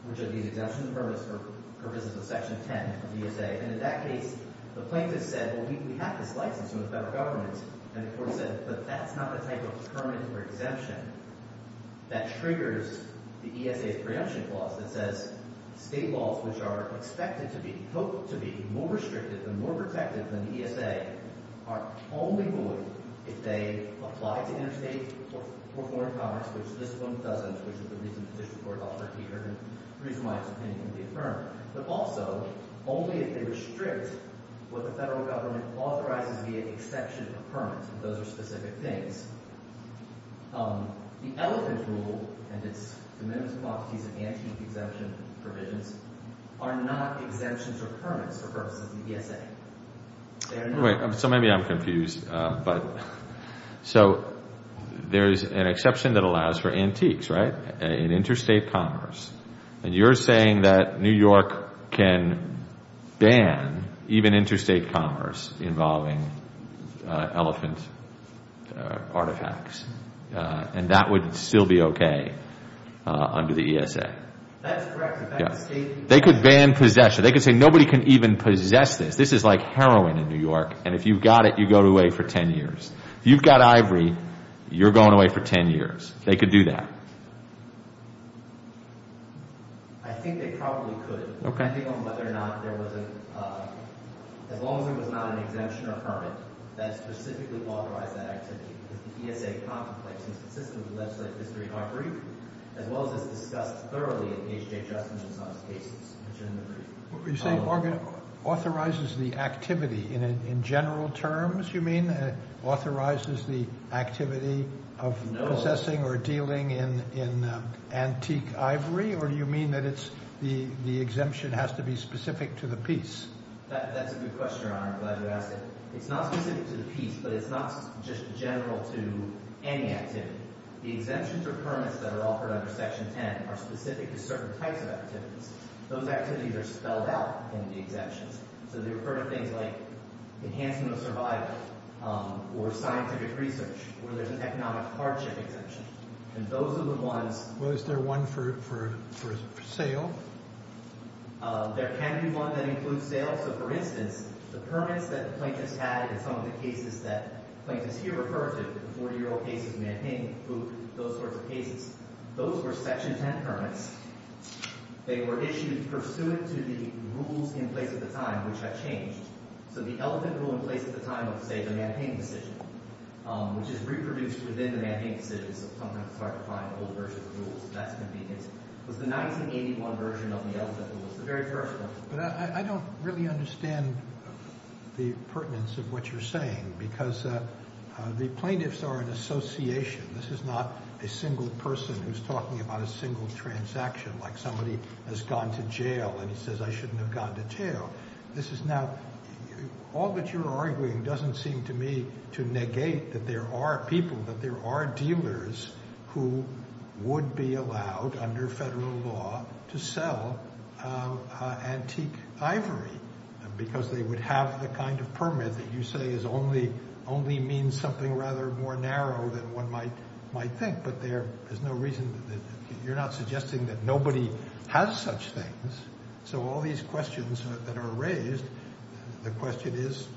which are these exemptions and permits for purposes of Section 10 of the ESA, and in that case, the plaintiff said, well, we have this license from the federal government. And the court said, but that's not the type of permit or exemption that triggers the ESA's preemption clause that says state laws, which are expected to be, hoped to be more restrictive and more protective than the ESA, are only void if they apply to interstate or foreign commerce, which this one doesn't, which is the reason the district court offered here and the reason why it's opinionally affirmed. But also, only if they restrict what the federal government authorizes to be an exception of permits, and those are specific things. The elephant rule and its amendments and properties enhancing the exemption provisions are not exemptions or permits for purposes of the ESA. So maybe I'm confused. So there is an exception that allows for antiques, right, in interstate commerce. And you're saying that New York can ban even interstate commerce involving elephant artifacts, and that would still be okay under the ESA? That's correct. They could ban possession. They could say nobody can even possess this. This is like heroin in New York, and if you've got it, you go away for 10 years. If you've got ivory, you're going away for 10 years. They could do that. I think they probably could, depending on whether or not there was a – as long as it was not an exemption or permit that specifically authorized that activity. The ESA contemplates and consistently legislates this during our brief, as well as it's discussed thoroughly in H.J. Or do you mean that it's – the exemption has to be specific to the piece? That's a good question, Your Honor. I'm glad you asked it. It's not specific to the piece, but it's not just general to any activity. The exemptions or permits that are offered under Section 10 are specific to certain types of activities. Those activities are spelled out in the exemptions. So they refer to things like enhancing the survival or scientific research where there's an economic hardship exemption. And those are the ones – Well, is there one for sale? There can be one that includes sale. So, for instance, the permits that plaintiffs had in some of the cases that plaintiffs here refer to, the 40-year-old cases of manpain, those sorts of cases, those were Section 10 permits. They were issued pursuant to the rules in place at the time, which have changed. So the elephant rule in place at the time of, say, the manpain decision, which is reproduced within the manpain decision, so sometimes it's hard to find an old version of the rules. That's going to be – it was the 1981 version of the elephant rule. It's the very first one. But I don't really understand the pertinence of what you're saying because the plaintiffs are an association. This is not a single person who's talking about a single transaction, like somebody has gone to jail and he says, I shouldn't have gone to jail. This is not – all that you're arguing doesn't seem to me to negate that there are people, that there are dealers who would be allowed under federal law to sell antique ivory because they would have the kind of permit that you say only means something rather more narrow than one might think. But there is no reason – you're not suggesting that nobody has such things. So all these questions that are raised, the question is,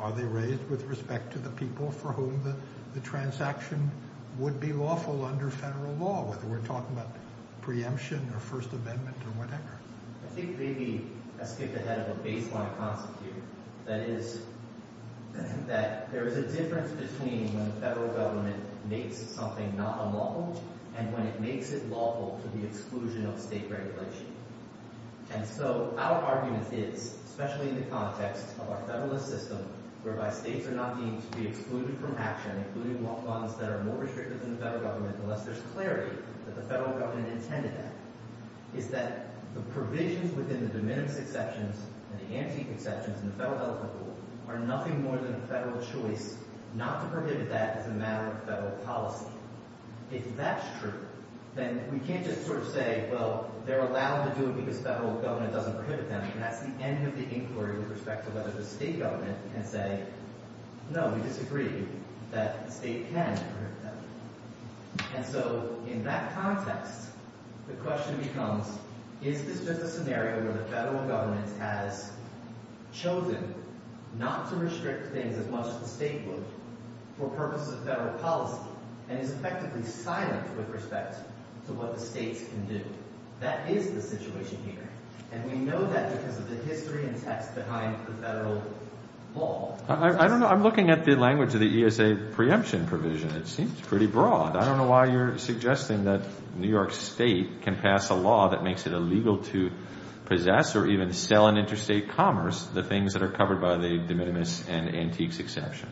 are they raised with respect to the people for whom the transaction would be lawful under federal law, whether we're talking about preemption or First Amendment or whatever? I think maybe a skip ahead of a baseline constitute, that is, that there is a difference between when the federal government makes something not unlawful and when it makes it lawful to the exclusion of state regulation. And so our argument is, especially in the context of our federalist system whereby states are not deemed to be excluded from action, including lawful bonds that are more restrictive than the federal government unless there's clarity that the federal government intended that, is that the provisions within the de minimis exceptions and the antique exceptions in the federal health rule are nothing more than a federal choice not to prohibit that as a matter of federal policy. If that's true, then we can't just sort of say, well, they're allowed to do it because federal government doesn't prohibit them. And that's the end of the inquiry with respect to whether the state government can say, no, we disagree that the state can prohibit them. And so in that context, the question becomes, is this just a scenario where the federal government has chosen not to restrict things as much as the state would for purposes of federal policy and is effectively silent with respect to what the states can do? That is the situation here. And we know that because of the history and text behind the federal law. I don't know. I'm looking at the language of the ESA preemption provision. It seems pretty broad. I don't know why you're suggesting that New York State can pass a law that makes it illegal to possess or even sell in interstate commerce the things that are covered by the de minimis and antiques exception.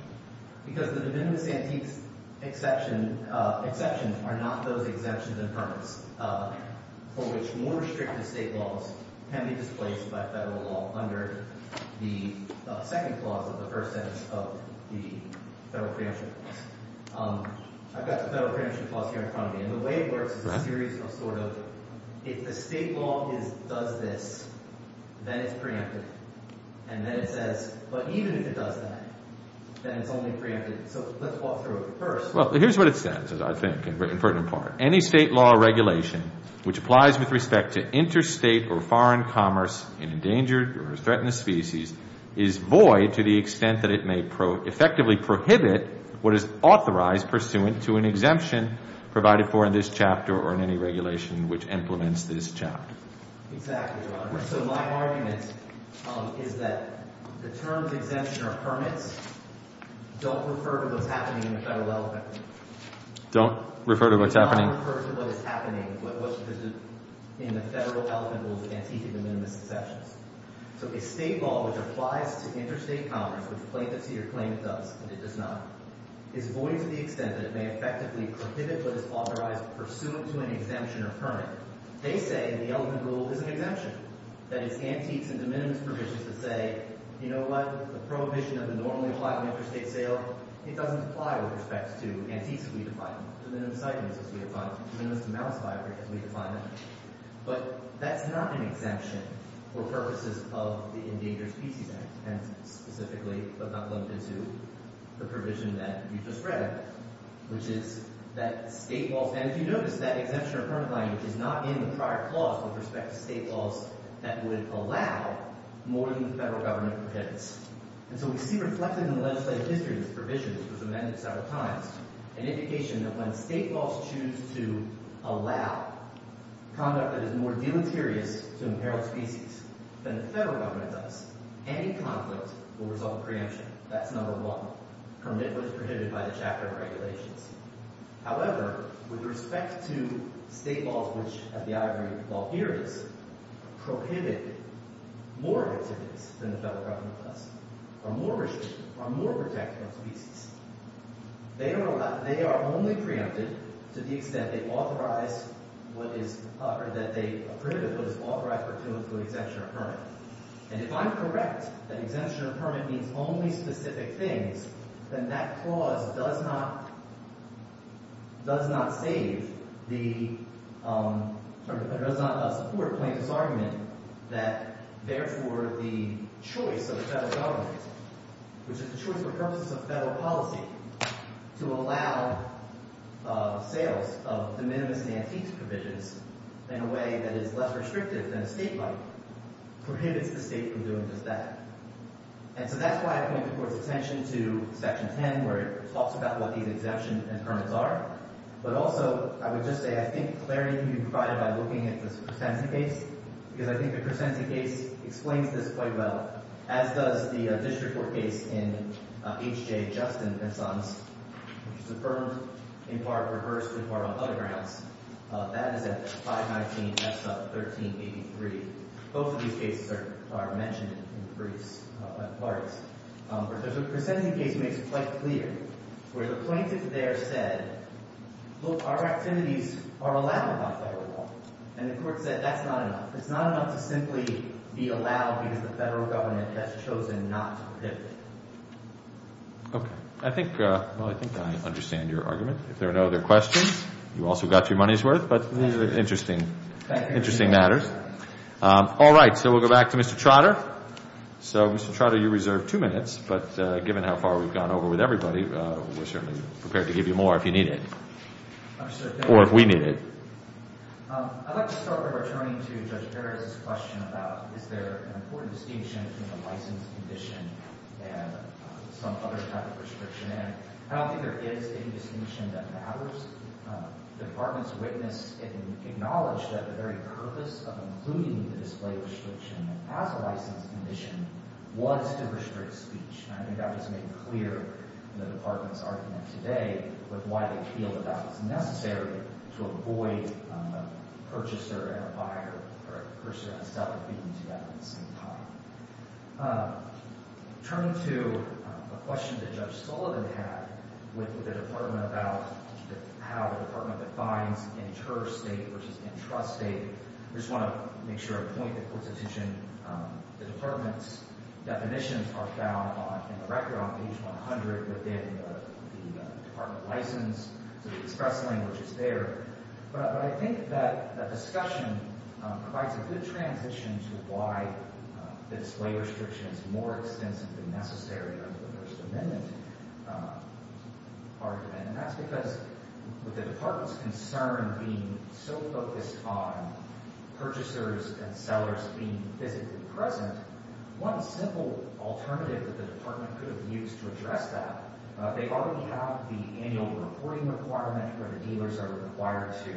Because the de minimis and antiques exceptions are not those exemptions and permits for which more restrictive state laws can be displaced by federal law under the second clause of the first sentence of the federal preemption clause. I've got the federal preemption clause here in front of me. And the way it works is a series of sort of if the state law does this, then it's preemptive. And then it says, but even if it does that, then it's only preemptive. So let's walk through it first. Well, here's what it says, I think, in part. Any state law or regulation which applies with respect to interstate or foreign commerce in endangered or threatened species is void to the extent that it may effectively prohibit what is authorized pursuant to an exemption provided for in this chapter or in any regulation which implements this chapter. Exactly, Your Honor. So my argument is that the terms exemption or permits don't refer to what's happening in the federal elephant. Don't refer to what's happening. They don't refer to what is happening in the federal elephant rules of antiques and de minimis exceptions. So a state law which applies to interstate commerce, which plaintiffs here claim it does and it does not, is void to the extent that it may effectively prohibit what is authorized pursuant to an exemption or permit. They say the elephant rule is an exemption. That it's antiques and de minimis provisions that say, you know what? The prohibition of the normally applied interstate sale, it doesn't apply with respect to antiques as we define them, de minimis items as we define them, de minimis amounts by which we define them. But that's not an exemption for purposes of the Endangered Species Act, and specifically, but not limited to, the provision that you just read, which is that state laws— And if you notice, that exemption or permit language is not in the prior clause with respect to state laws that would allow more than the federal government prohibits. And so we see reflected in the legislative history of this provision, which was amended several times, an indication that when state laws choose to allow conduct that is more deleterious to imperiled species than the federal government does, any conflict will result in preemption. That's number one. Permit was prohibited by the chapter of regulations. However, with respect to state laws, which, as the I agree with the law here is, prohibit more activities than the federal government does, are more restrictive, are more protective of species. They are only preempted to the extent they authorize what is—or that they prohibit what is authorized or to include exemption or permit. And if I'm correct that exemption or permit means only specific things, then that clause does not—does not save the—does not support Plaintiff's argument that, therefore, the choice of the federal government, which is the choice for purposes of federal policy, to allow sales of de minimis and antiques provisions in a way that is less restrictive than a state might, prohibits the state from doing just that. And so that's why I point the Court's attention to Section 10, where it talks about what these exemptions and permits are. But also, I would just say I think clarity can be provided by looking at this Crescenti case, because I think the Crescenti case explains this quite well, as does the district court case in H.J. Justin and Sons, which is affirmed in part rehearsed in part on other grounds. That is at 519 F-1383. Both of these cases are mentioned in briefs and parts. But the Crescenti case makes it quite clear where the plaintiff there said, look, our activities are allowed without federal law. And the Court said that's not enough. It's not enough to simply be allowed because the federal government has chosen not to prohibit it. Okay. I think I understand your argument. If there are no other questions, you also got your money's worth. But these are interesting matters. All right. So we'll go back to Mr. Trotter. So, Mr. Trotter, you reserve two minutes. But given how far we've gone over with everybody, we're certainly prepared to give you more if you need it or if we need it. I'd like to start by returning to Judge Perez's question about is there an important distinction between a license condition and some other type of restriction. And I don't think there is any distinction that matters. The Department's witness acknowledged that the very purpose of including the display restriction as a license condition was to restrict speech. And I think that was made clear in the Department's argument today with why they feel that that was necessary to avoid a purchaser and a buyer or a purchaser and a seller speaking together at the same time. Turning to a question that Judge Sullivan had with the Department about how the Department defines interstate versus intrastate, I just want to make sure I point the court's attention. The Department's definitions are found in the record on page 100 within the Department license. So the express language is there. But I think that that discussion provides a good transition to why the display restriction is more extensively necessary under the First Amendment argument. And that's because with the Department's concern being so focused on purchasers and sellers being physically present, one simple alternative that the Department could have used to address that, they already have the annual reporting requirement where the dealers are required to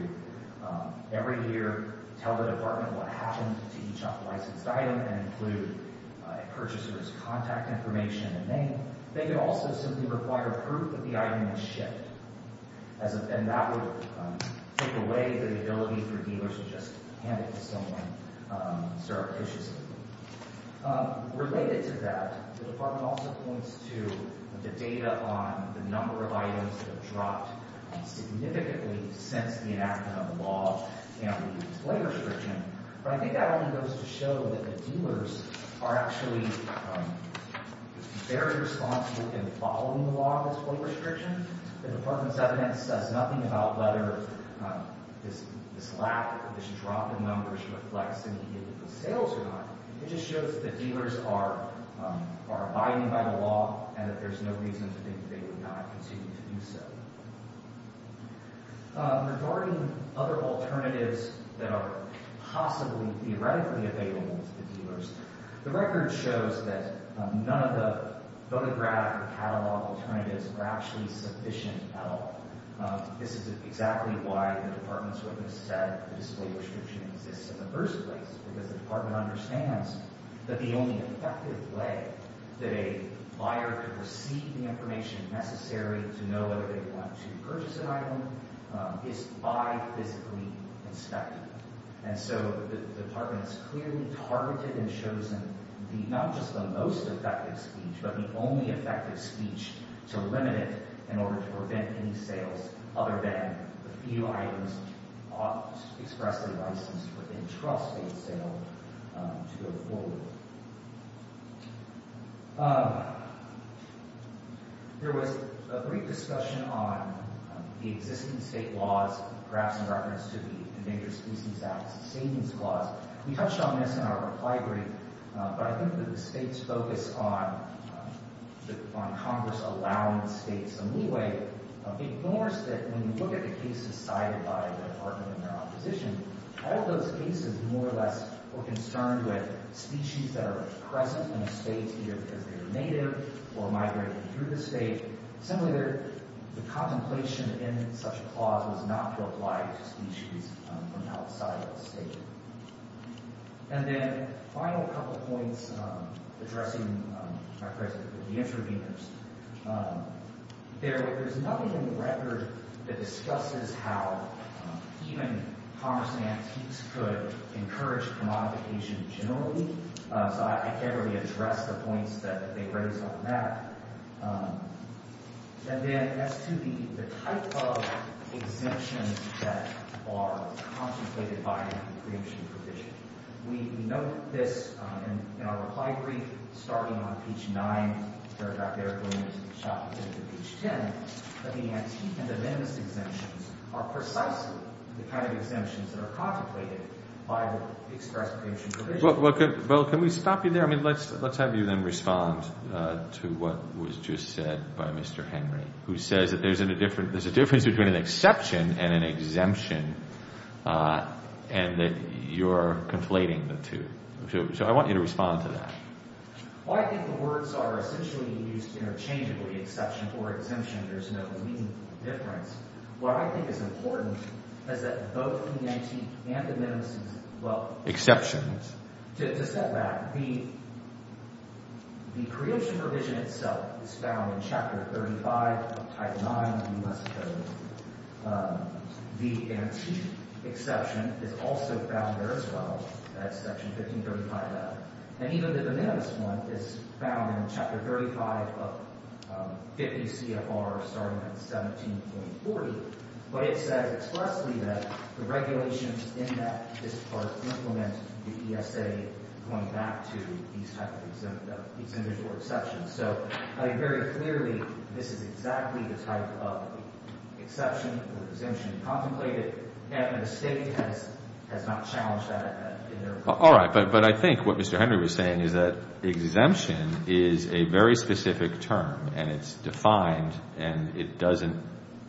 every year tell the Department what happened to each unlicensed item and include a purchaser's contact information and name. They could also simply require proof that the item was shipped. And that would take away the ability for dealers to just hand it to someone surreptitiously. Related to that, the Department also points to the data on the number of items that have dropped significantly since the enactment of the law and the display restriction. But I think that only goes to show that the dealers are actually very responsible in following the law and display restriction. The Department's evidence says nothing about whether this lack, this drop in numbers reflects any sales or not. It just shows that dealers are abiding by the law and that there's no reason to think they would not continue to do so. Regarding other alternatives that are possibly theoretically available to the dealers, the record shows that none of the photograph catalog alternatives are actually sufficient at all. This is exactly why the Department's witness said the display restriction exists in the first place, because the Department understands that the only effective way that a buyer could receive the information necessary to know whether they want to purchase an item is by physically inspecting it. And so the Department has clearly targeted and chosen not just the most effective speech, but the only effective speech to limit it in order to prevent any sales other than the few items expressly licensed for intrastate sale to go forward. There was a brief discussion on the existing state laws, perhaps in reference to the Endangered Species Act's savings clause. We touched on this in our reply brief, but I think that the state's focus on Congress allowing states a leeway ignores that when you look at the cases cited by the Department and their opposition, all those cases more or less were concerned with species that are present in the states either because they're native or migrating through the state. Similarly, the contemplation in such a clause was not to apply to species from outside of the state. And then a final couple of points addressing the interveners. There is nothing in the record that discusses how even Congress and antiques could encourage commodification generally, so I can't really address the points that they raise on that. And then as to the type of exemptions that are contemplated by the preemption provision. We note this in our reply brief starting on page 9, where Dr. Erickson and Ms. Schaffer did the page 10, that the antiques and the venice exemptions are precisely the kind of exemptions that are contemplated by the express preemption provision. Well, can we stop you there? I mean, let's have you then respond to what was just said by Mr. Henry, who says that there's a difference between an exception and an exemption and that you're conflating the two. So I want you to respond to that. Well, I think the words are essentially used interchangeably, exception or exemption. There's no meaningful difference. What I think is important is that both the antiques and the minimuses, well, to set back, the preemption provision itself is found in Chapter 35 of Title IX of the U.S. Code. The antiques exception is also found there as well as Section 1535 of that. And even the minimus one is found in Chapter 35 of 50 CFR starting at 17.40. But it says expressly that the regulations in that part implement the ESA going back to these types of exemptions or exceptions. So I mean, very clearly, this is exactly the type of exception or exemption contemplated, and the State has not challenged that in their conclusion. All right. But I think what Mr. Henry was saying is that exemption is a very specific term, and it's defined and it doesn't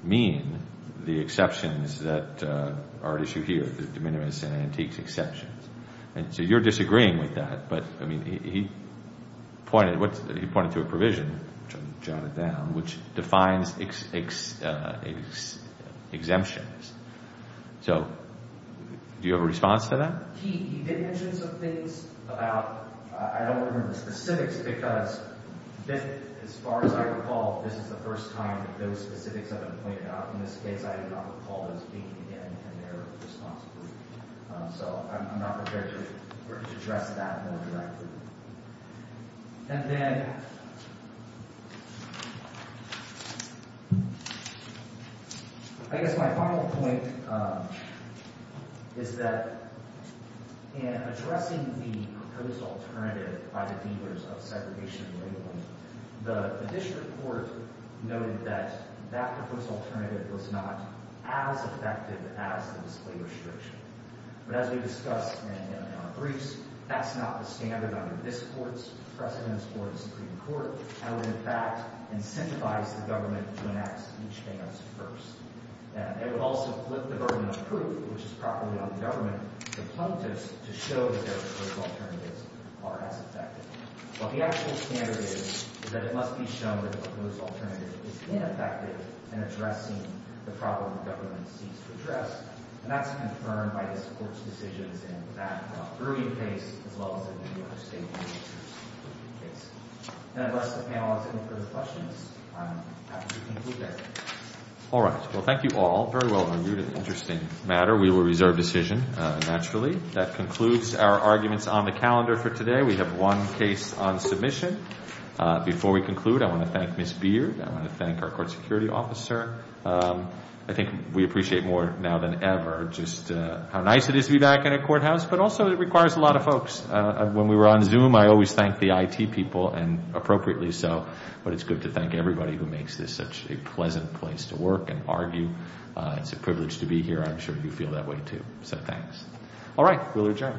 mean the exceptions that are at issue here, the minimus and antiques exceptions. And so you're disagreeing with that, but, I mean, he pointed to a provision, which I'm going to jot it down, which defines exemptions. So do you have a response to that? He did mention some things about, I don't remember the specifics, because as far as I recall, this is the first time that those specifics have been pointed out. In this case, I did not recall those being in their response brief. So I'm not prepared to address that more directly. And then I guess my final point is that in addressing the proposed alternative by the dealers of segregation and labeling, the district court noted that that proposed alternative was not as effective as the display restriction. But as we discussed in our briefs, that's not the standard under this court's precedence or the Supreme Court. That would, in fact, incentivize the government to enact each thing else first. It would also lift the burden of proof, which is probably on the government to show that their proposed alternatives are as effective. But the actual standard is that it must be shown that the proposed alternative is ineffective And that's confirmed by this court's decisions in that early case as well as in the New York State case. And the rest of the panelists, any further questions? I'm happy to conclude there. All right. Well, thank you all. Very well reviewed. Interesting matter. We will reserve decision, naturally. That concludes our arguments on the calendar for today. We have one case on submission. Before we conclude, I want to thank Ms. Beard. I want to thank our court security officer. I think we appreciate more now than ever just how nice it is to be back in a courthouse. But also it requires a lot of folks. When we were on Zoom, I always thank the IT people, and appropriately so. But it's good to thank everybody who makes this such a pleasant place to work and argue. It's a privilege to be here. I'm sure you feel that way, too. So thanks. All right. We'll adjourn. Thank you.